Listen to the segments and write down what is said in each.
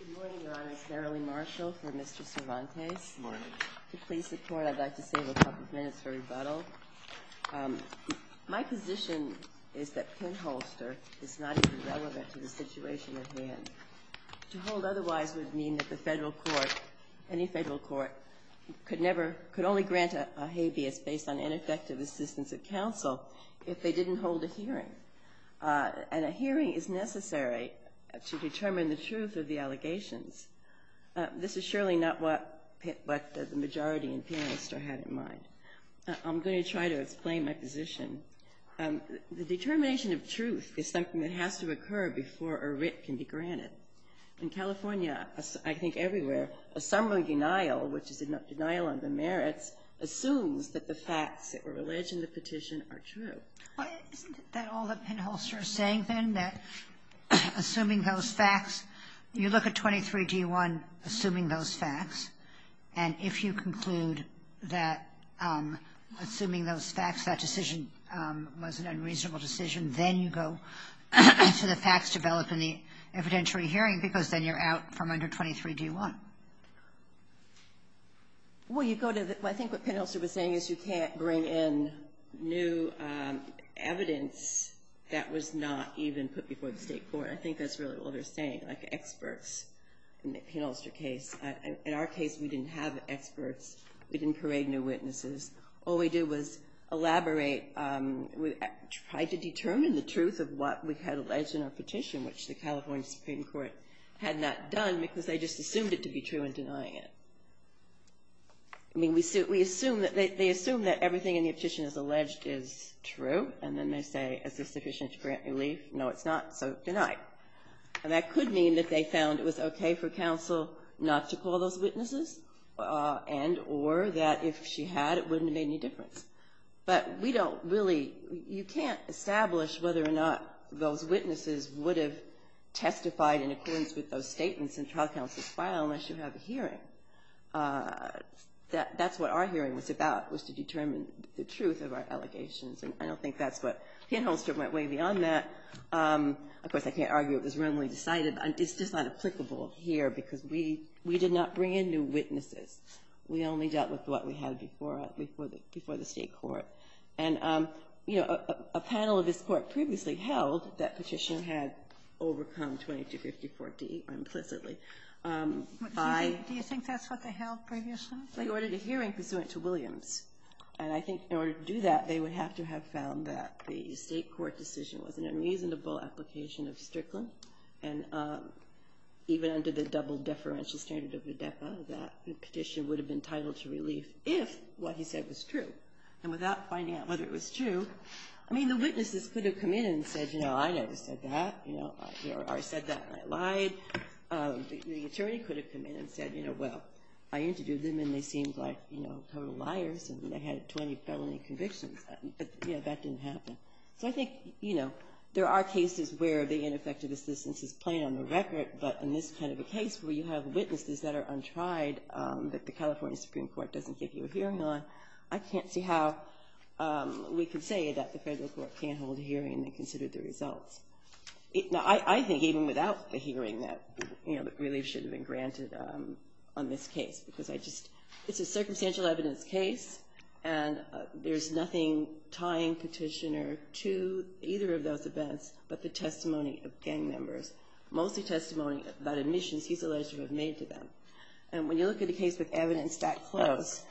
Good morning, Your Honor. It's Marilyn Marshall for Mr. Cervantes. Good morning. To please the Court, I'd like to save a couple of minutes for rebuttal. My position is that pinholster is not even relevant to the situation at hand. To hold otherwise would mean that the federal court, any federal court, could only grant a habeas based on ineffective assistance of counsel if they didn't hold a hearing. And a hearing is necessary to determine the truth of the allegations. This is surely not what the majority in pinholster had in mind. I'm going to try to explain my position. The determination of truth is something that has to occur before a writ can be granted. In California, I think everywhere, a summary denial, which is a denial on the merits, assumes that the facts that were alleged in the petition are true. Isn't that all that pinholster is saying, then? That assuming those facts, you look at 23d1, assuming those facts, and if you conclude that assuming those facts that decision was an unreasonable decision, then you go to the facts developed in the evidentiary hearing because then you're out from under 23d1. Well, you go to the — I think what pinholster was saying is you can't bring in new evidence that was not even put before the state court. I think that's really all they're saying, like experts in the pinholster case. In our case, we didn't have experts. We didn't parade new witnesses. All we did was elaborate. We tried to determine the truth of what we had alleged in our petition, which the California Supreme Court had not done because they just assumed it to be true in denying it. I mean, we assume that — they assume that everything in the petition is alleged is true, and then they say, is this sufficient to grant relief? No, it's not, so deny it. And that could mean that they found it was okay for counsel not to call those witnesses and or that if she had, it wouldn't have made any difference. But we don't really — you can't establish whether or not those witnesses would have testified in accordance with those statements in trial counsel's file unless you have a hearing. That's what our hearing was about, was to determine the truth of our allegations, and I don't think that's what pinholster went way beyond that. Of course, I can't argue it was wrongly decided. It's just not applicable here because we did not bring in new witnesses. We only dealt with what we had before the State court. And, you know, a panel of this court previously held that petition had overcome 2254D implicitly. Do you think that's what they held previously? They ordered a hearing pursuant to Williams, and I think in order to do that, they would have to have found that the State court decision was an unreasonable application of Strickland, and even under the double-deferential standard of the DEPA, that petition would have been titled to relief if what he said was true. And without finding out whether it was true — I mean, the witnesses could have come in and said, you know, I never said that, you know, or I said that and I lied. The attorney could have come in and said, you know, well, I interviewed them, and they seemed like, you know, total liars, and they had 20 felony convictions. But, you know, that didn't happen. So I think, you know, there are cases where the ineffective assistance is plain on the record, but in this kind of a case where you have witnesses that are untried that the California Supreme Court doesn't give you a hearing on, I can't see how we could say that the Federal court can't hold a hearing and consider the results. Now, I think even without the hearing that, you know, relief should have been granted on this case, because I just — it's a circumstantial evidence case, and there's nothing tying Petitioner to either of those events but the testimony of gang members, mostly testimony about admissions he's alleged to have made to them. And when you look at a case with evidence that close,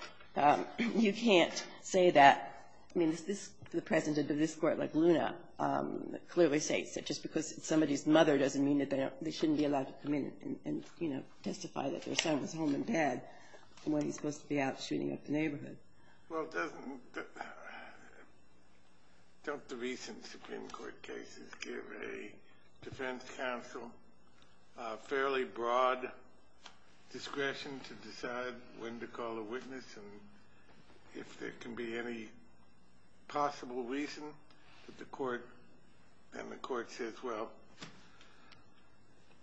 you can't say that — I mean, the president of this court, like Luna, clearly states that just because it's somebody's mother doesn't mean that they shouldn't be allowed to come in and, you know, testify that their son was home and dead when he's supposed to be out shooting up the neighborhood. Well, doesn't — don't the recent Supreme Court cases give a defense counsel fairly broad discretion to decide when to call a witness and if there can be any possible reason that the court —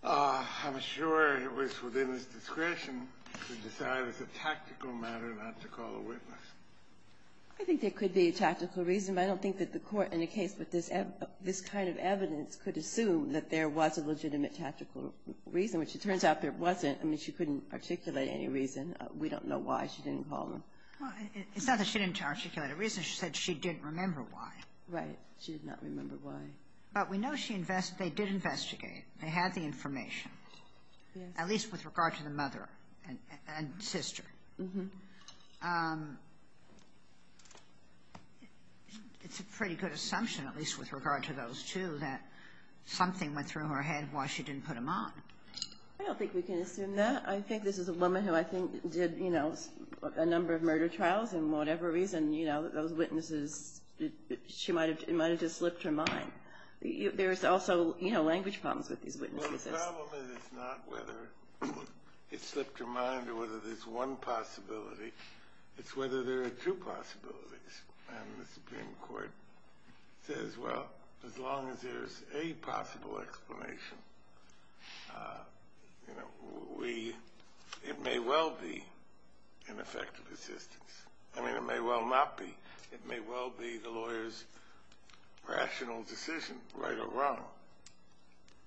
I'm sure it was within its discretion to decide as a tactical matter not to call a witness. I think there could be a tactical reason, but I don't think that the court in a case with this kind of evidence could assume that there was a legitimate tactical reason, which it turns out there wasn't. I mean, she couldn't articulate any reason. We don't know why she didn't call them. Well, it's not that she didn't articulate a reason. She said she didn't remember why. She did not remember why. But we know she — they did investigate. They had the information, at least with regard to the mother and sister. It's a pretty good assumption, at least with regard to those two, that something went through her head why she didn't put them on. I don't think we can assume that. I think this is a woman who I think did, you know, a number of murder trials, and whatever reason, you know, those witnesses, it might have just slipped her mind. There's also, you know, language problems with these witnesses. Well, the problem is it's not whether it slipped her mind or whether there's one possibility. It's whether there are two possibilities. And the Supreme Court says, well, as long as there's a possible explanation, you know, we — it may well be ineffective assistance. I mean, it may well not be. It may well be the lawyer's rational decision, right or wrong.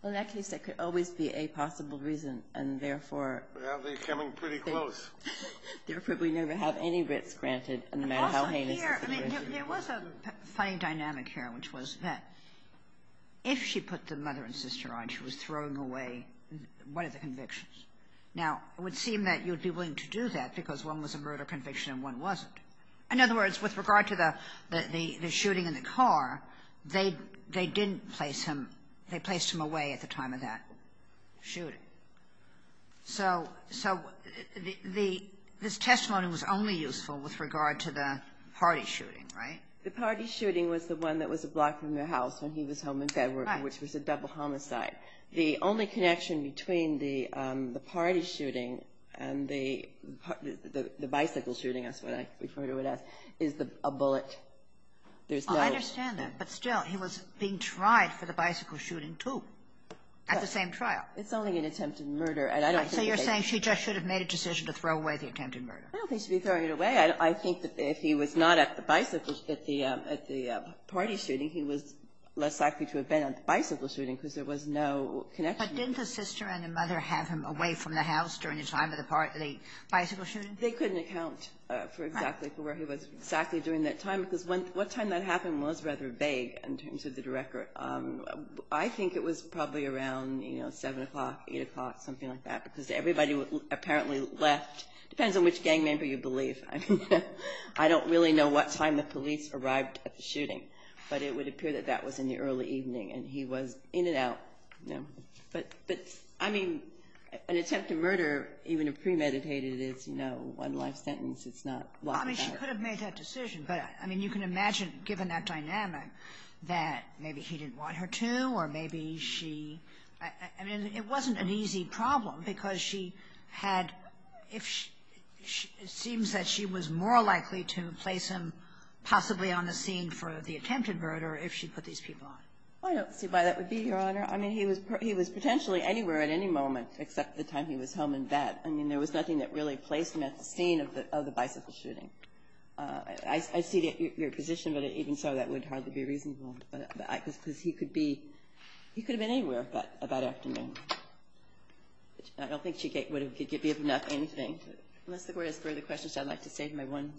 Well, in that case, there could always be a possible reason, and therefore — Well, they're coming pretty close. Therefore, we never have any risk granted, no matter how heinous the situation. There was a funny dynamic here, which was that if she put the mother and sister on, she was throwing away one of the convictions. Now, it would seem that you would be willing to do that because one was a murder conviction and one wasn't. In other words, with regard to the shooting in the car, they didn't place him — they placed him away at the time of that shooting. So this testimony was only useful with regard to the party shooting, right? The party shooting was the one that was a block from the house when he was home in Bedware, which was a double homicide. The only connection between the party shooting and the bicycle shooting, that's what I refer to it as, is a bullet. There's no — I understand that, but still, he was being tried for the bicycle shooting, too, at the same trial. It's only an attempted murder, and I don't think that they — So you're saying she just should have made a decision to throw away the attempted murder. I don't think she should be throwing it away. I think that if he was not at the bicycle — at the party shooting, he was less likely to have been at the bicycle shooting because there was no connection. But didn't the sister and the mother have him away from the house during the time of the bicycle shooting? They couldn't account for exactly where he was exactly during that time because what time that happened was rather vague in terms of the record. I think it was probably around, you know, 7 o'clock, 8 o'clock, something like that because everybody apparently left. It depends on which gang member you believe. I mean, I don't really know what time the police arrived at the shooting, but it would appear that that was in the early evening, and he was in and out. But, I mean, an attempted murder, even if premeditated, is, you know, one life sentence. It's not — I mean, she could have made that decision, but, I mean, you can imagine, given that dynamic, that maybe he didn't want her to, or maybe she — I mean, it wasn't an easy problem because she had — it seems that she was more likely to place him possibly on the scene for the attempted murder if she put these people on. I don't see why that would be, Your Honor. I mean, he was potentially anywhere at any moment except the time he was home in bed. I mean, there was nothing that really placed him at the scene of the bicycle shooting. I see your position, but even so, that would hardly be reasonable, because he could be — he could have been anywhere about afternoon. I don't think she would have given up anything. Unless the Court has further questions, I'd like to save my one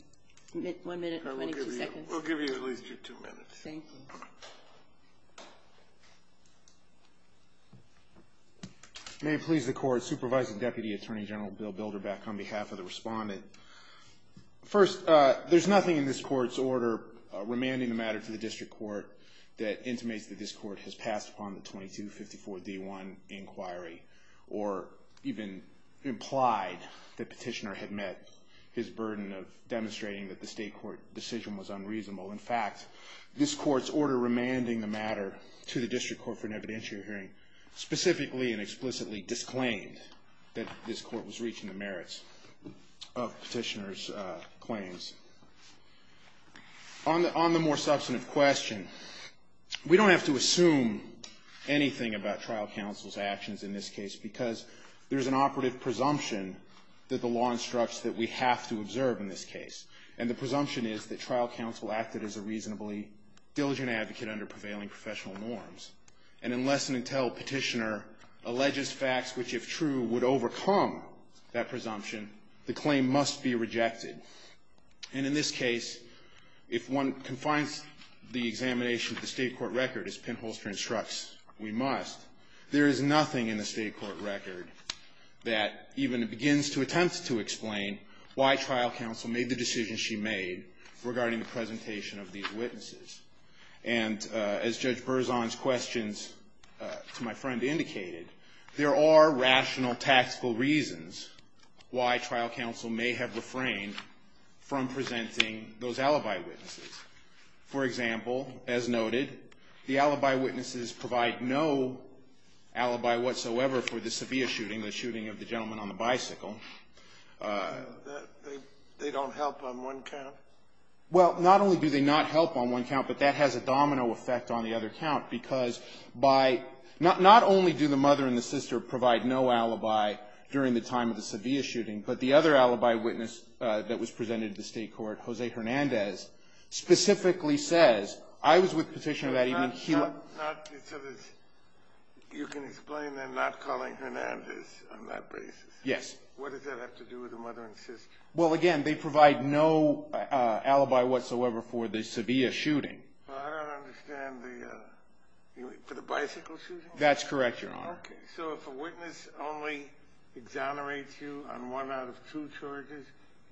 minute or maybe two seconds. We'll give you at least your two minutes. Thank you. May it please the Court, Supervising Deputy Attorney General Bill Bilder back on behalf of the Respondent. First, there's nothing in this Court's order remanding the matter to the District Court that intimates that this Court has passed upon the 2254d1 inquiry or even implied that Petitioner had met his burden of demonstrating that the state court decision was unreasonable. In fact, this Court's order remanding the matter to the District Court for an evidentiary hearing specifically and explicitly disclaimed that this Court was reaching the merits of Petitioner's claims. On the more substantive question, we don't have to assume anything about trial counsel's actions in this case because there's an operative presumption that the law instructs that we have to observe in this case. And the presumption is that trial counsel acted as a reasonably diligent advocate under prevailing professional norms. And unless and until Petitioner alleges facts which, if true, would overcome that presumption, the claim must be rejected. And in this case, if one confines the examination to the state court record, as Penholster instructs, we must, there is nothing in the state court record that even begins to attempt to explain why trial counsel made the decision she made regarding the presentation of these witnesses. And as Judge Berzon's questions to my friend indicated, there are rational tactical reasons why trial counsel may have refrained from presenting those alibi witnesses. For example, as noted, the alibi witnesses provide no alibi whatsoever for the severe shooting, the shooting of the gentleman on the bicycle. They don't help on one count? Well, not only do they not help on one count, but that has a domino effect on the other count because by, not only do the mother and the sister provide no alibi during the time of the severe shooting, but the other alibi witness that was presented to the state court, Jose Hernandez, specifically says, I was with Petitioner that evening. He was not, not, so there's, you can explain them not calling Hernandez on that basis? Yes. What does that have to do with the mother and sister? Well, again, they provide no alibi whatsoever for the severe shooting. Well, I don't understand the, for the bicycle shooting? That's correct, Your Honor. Okay, so if a witness only exonerates you on one out of two charges,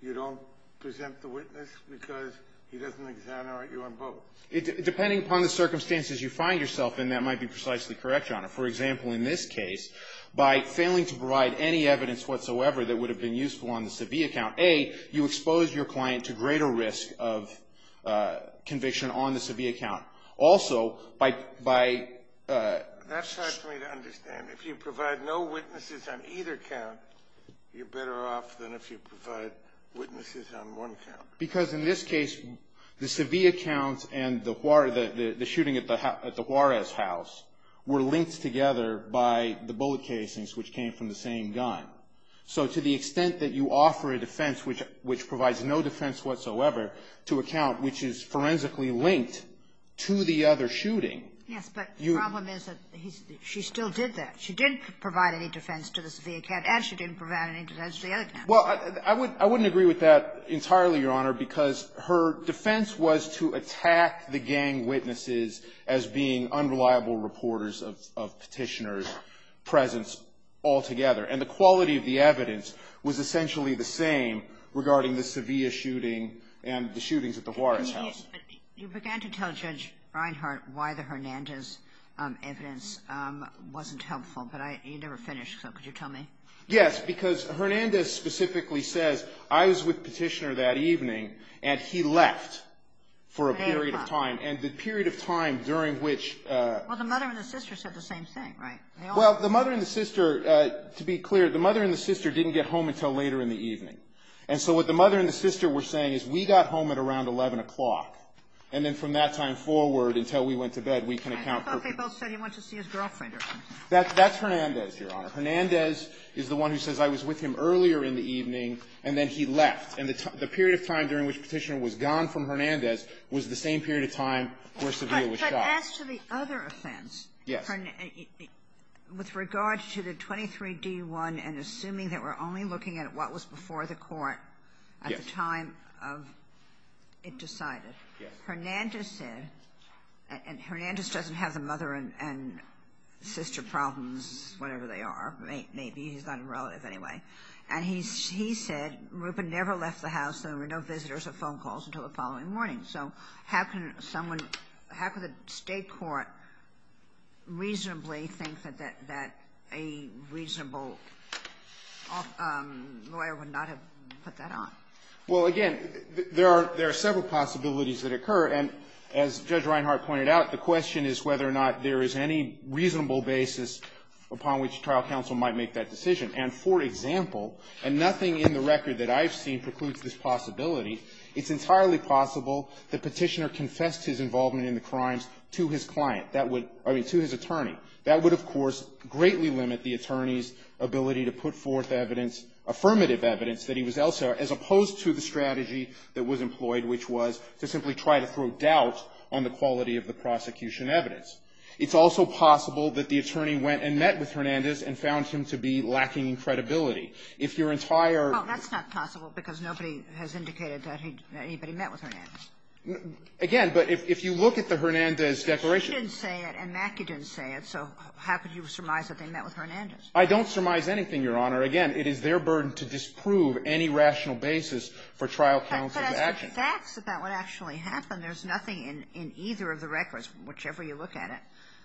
you don't present the witness because he doesn't exonerate you on both? Depending upon the circumstances you find yourself in, that might be precisely correct, Your Honor. For example, in this case, by failing to provide any evidence whatsoever that would have been useful on the severe count, A, you expose your client to greater risk of conviction on the severe count. Also, by, that's hard for me to understand. If you provide no witnesses on either count, you're better off than if you provide witnesses on one count. Because in this case, the severe counts and the shooting at the Juarez house were linked together by the bullet casings which came from the same gun. So to the extent that you offer a defense which provides no defense whatsoever to a count which is forensically linked to the other shooting. Yes, but the problem is that she still did that. She didn't provide any defense to the severe count and she didn't provide any defense to the other count. Well, I wouldn't agree with that entirely, Your Honor, because her defense was to attack the gang witnesses as being unreliable reporters of Petitioner's presence altogether. And the quality of the evidence was essentially the same regarding the severe shooting and the shootings at the Juarez house. You began to tell Judge Reinhart why the Hernandez evidence wasn't helpful, but you never finished, so could you tell me? Yes, because Hernandez specifically says, I was with Petitioner that evening and he left for a period of time. And the period of time during which. Well, the mother and the sister said the same thing, right? Well, the mother and the sister, to be clear, the mother and the sister didn't get home until later in the evening. And so what the mother and the sister were saying is we got home at around 11 o'clock and then from that time forward until we went to bed we can account for. I thought they both said he went to see his girlfriend or something. That's Hernandez, Your Honor. Hernandez is the one who says I was with him earlier in the evening and then he left. And the period of time during which Petitioner was gone from Hernandez was the same period of time where Seville was shot. But as to the other offense. Yes. With regard to the 23-D1 and assuming that we're only looking at what was before the court at the time of it decided. Yes. Hernandez said, and Hernandez doesn't have the mother and sister problems, whatever they are, maybe. He's not a relative anyway. And he said Rubin never left the house and there were no visitors or phone calls until the following morning. So how can someone, how can the State court reasonably think that a reasonable lawyer would not have put that on? Well, again, there are several possibilities that occur. And as Judge Reinhart pointed out, the question is whether or not there is any reasonable basis upon which trial counsel might make that decision. And for example, and nothing in the record that I've seen precludes this possibility, it's entirely possible that Petitioner confessed his involvement in the crimes to his client. That would, I mean, to his attorney. That would, of course, greatly limit the attorney's ability to put forth evidence, affirmative evidence that he was elsewhere, as opposed to the strategy that was employed, which was to simply try to throw doubt on the quality of the prosecution evidence. It's also possible that the attorney went and met with Hernandez and found him to be lacking in credibility. If your entire ---- I don't surmise that he met with Hernandez. Again, but if you look at the Hernandez declaration ---- You didn't say it and Mackey didn't say it. So how could you surmise that they met with Hernandez? I don't surmise anything, Your Honor. Again, it is their burden to disprove any rational basis for trial counsel's actions. But as to facts about what actually happened, there's nothing in either of the records, whichever you look at it,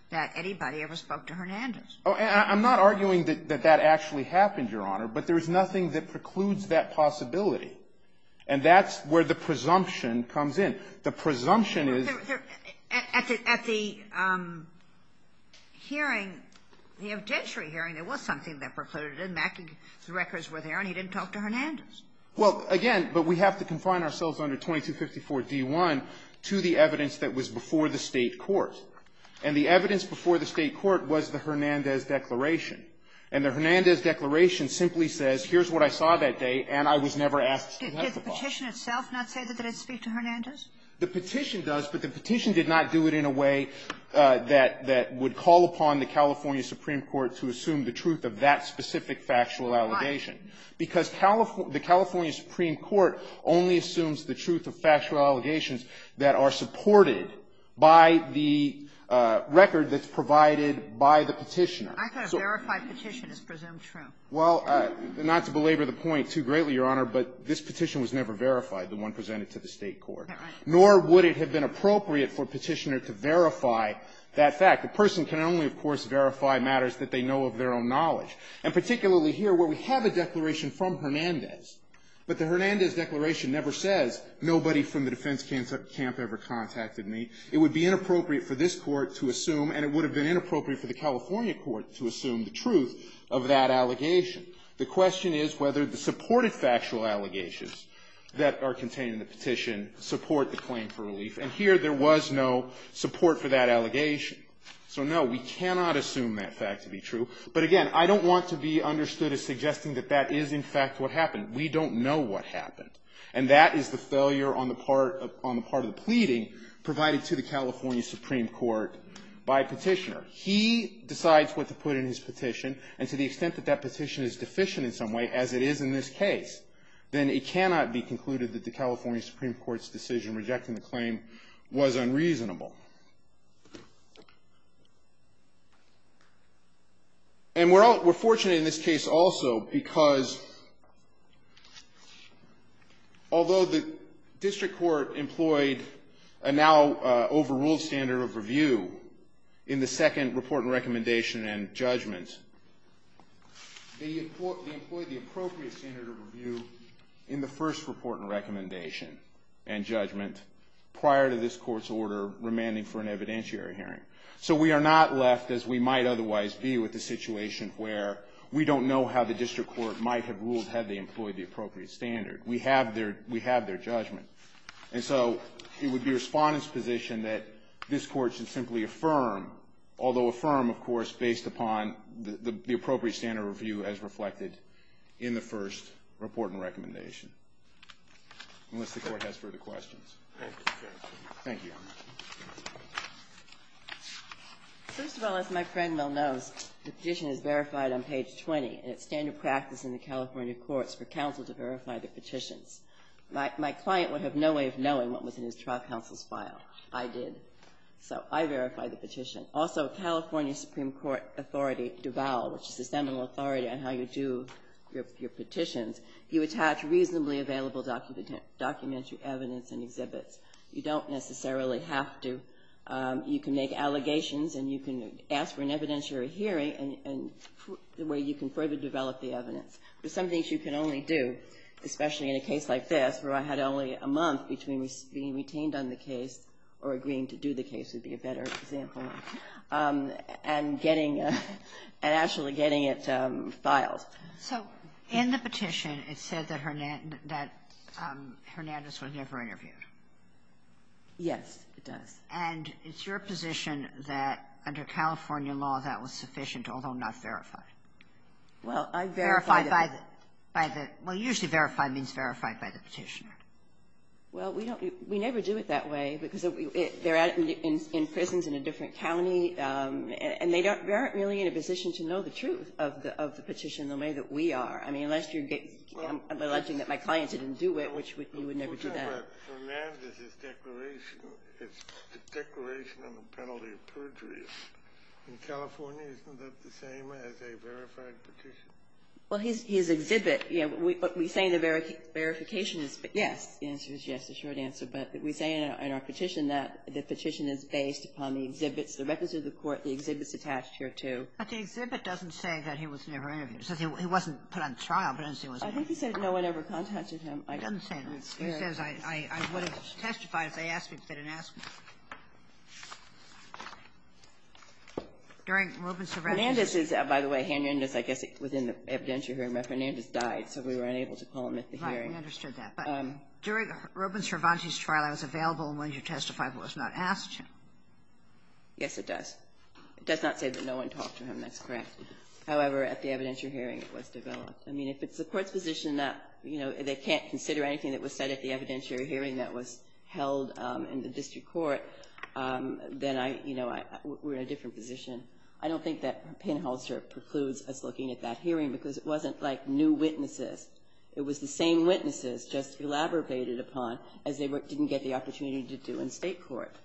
that anybody ever spoke to Hernandez. Oh, and I'm not arguing that that actually happened, Your Honor. But there is nothing that precludes that possibility. And that's where the presumption comes in. The presumption is ---- At the hearing, the evidentiary hearing, there was something that precluded it. Mackey's records were there, and he didn't talk to Hernandez. Well, again, but we have to confine ourselves under 2254d1 to the evidence that was before the State court. And the evidence before the State court was the Hernandez declaration. And the Hernandez declaration simply says, here's what I saw that day, and I was never asked to testify. Did the petition itself not say that it didn't speak to Hernandez? The petition does. But the petition did not do it in a way that would call upon the California Supreme Court to assume the truth of that specific factual allegation. Why? Because the California Supreme Court only assumes the truth of factual allegations that are supported by the record that's provided by the petitioner. I could have verified petition is presumed true. Well, not to belabor the point too greatly, Your Honor, but this petition was never verified, the one presented to the State court. All right. Nor would it have been appropriate for a petitioner to verify that fact. A person can only, of course, verify matters that they know of their own knowledge. And particularly here, where we have a declaration from Hernandez, but the Hernandez declaration never says, nobody from the defense camp ever contacted me. It would be inappropriate for this Court to assume, and it would have been inappropriate for the California court to assume the truth of that allegation. The question is whether the supported factual allegations that are contained in the petition support the claim for relief. And here there was no support for that allegation. So, no, we cannot assume that fact to be true. But, again, I don't want to be understood as suggesting that that is in fact what happened. We don't know what happened. And that is the failure on the part of the pleading provided to the California Supreme Court by Petitioner. He decides what to put in his petition, and to the extent that that petition is deficient in some way, as it is in this case, then it cannot be concluded that the California Supreme Court's decision rejecting the claim was unreasonable. And we're all we're fortunate in this case also because, although the district court employed a now overruled standard of review in the Second Amendment, in report and recommendation and judgment, they employed the appropriate standard of review in the first report and recommendation and judgment prior to this court's order remanding for an evidentiary hearing. So we are not left as we might otherwise be with the situation where we don't know how the district court might have ruled had they employed the appropriate standard. We have their judgment. And so it would be a respondent's position that this court should simply affirm, although affirm, of course, based upon the appropriate standard of review as reflected in the first report and recommendation. Unless the Court has further questions. Thank you. First of all, as my friend well knows, the petition is verified on page 20. And it's standard practice in the California courts for counsel to verify the petitions. My client would have no way of knowing what was in his trial counsel's file. I did. So I verified the petition. Also, California Supreme Court authority, Duval, which is the seminal authority on how you do your petitions, you attach reasonably available documentary evidence and exhibits. You don't necessarily have to. You can make allegations and you can ask for an evidentiary hearing and the way you can further develop the evidence. There are some things you can only do, especially in a case like this where I had only a month between being retained on the case or agreeing to do the case would be a better example, and getting and actually getting it filed. So in the petition, it said that Hernandez was never interviewed. Yes, it does. And it's your position that under California law that was sufficient, although not verified? Well, I verified it. Verified by the – well, usually verified means verified by the petitioner. Well, we don't – we never do it that way because they're in prisons in a different county, and they don't – they aren't really in a position to know the truth of the petition the way that we are. I mean, unless you're – I'm alleging that my clients didn't do it, which would – you would never do that. But Fernandez's declaration, his declaration on the penalty of perjury in California, isn't that the same as a verified petition? Well, his – his exhibit, yeah. What we say in the verification is yes. The answer is yes, the short answer. But we say in our petition that the petition is based upon the exhibits, the records of the court, the exhibits attached here, too. But the exhibit doesn't say that he was never interviewed. It says he wasn't put on trial, but it doesn't say he was never interviewed. I think it says no one ever contacted him. It doesn't say that. It says I would have testified if they asked me to fit an estimate. During Robbins-Cervantes' trial, I was available when you testified, but was not asked to. Yes, it does. It does not say that no one talked to him. That's correct. However, at the evidentiary hearing, it was developed. I mean, if it's the Court's position that, you know, they can't consider anything that was said at the evidentiary hearing that was held in the district court, They can't say that no one talked to him. Then, you know, we're in a different position. I don't think that Penholzer precludes us looking at that hearing because it wasn't like new witnesses. It was the same witnesses just elaborated upon as they didn't get the opportunity to do in state court.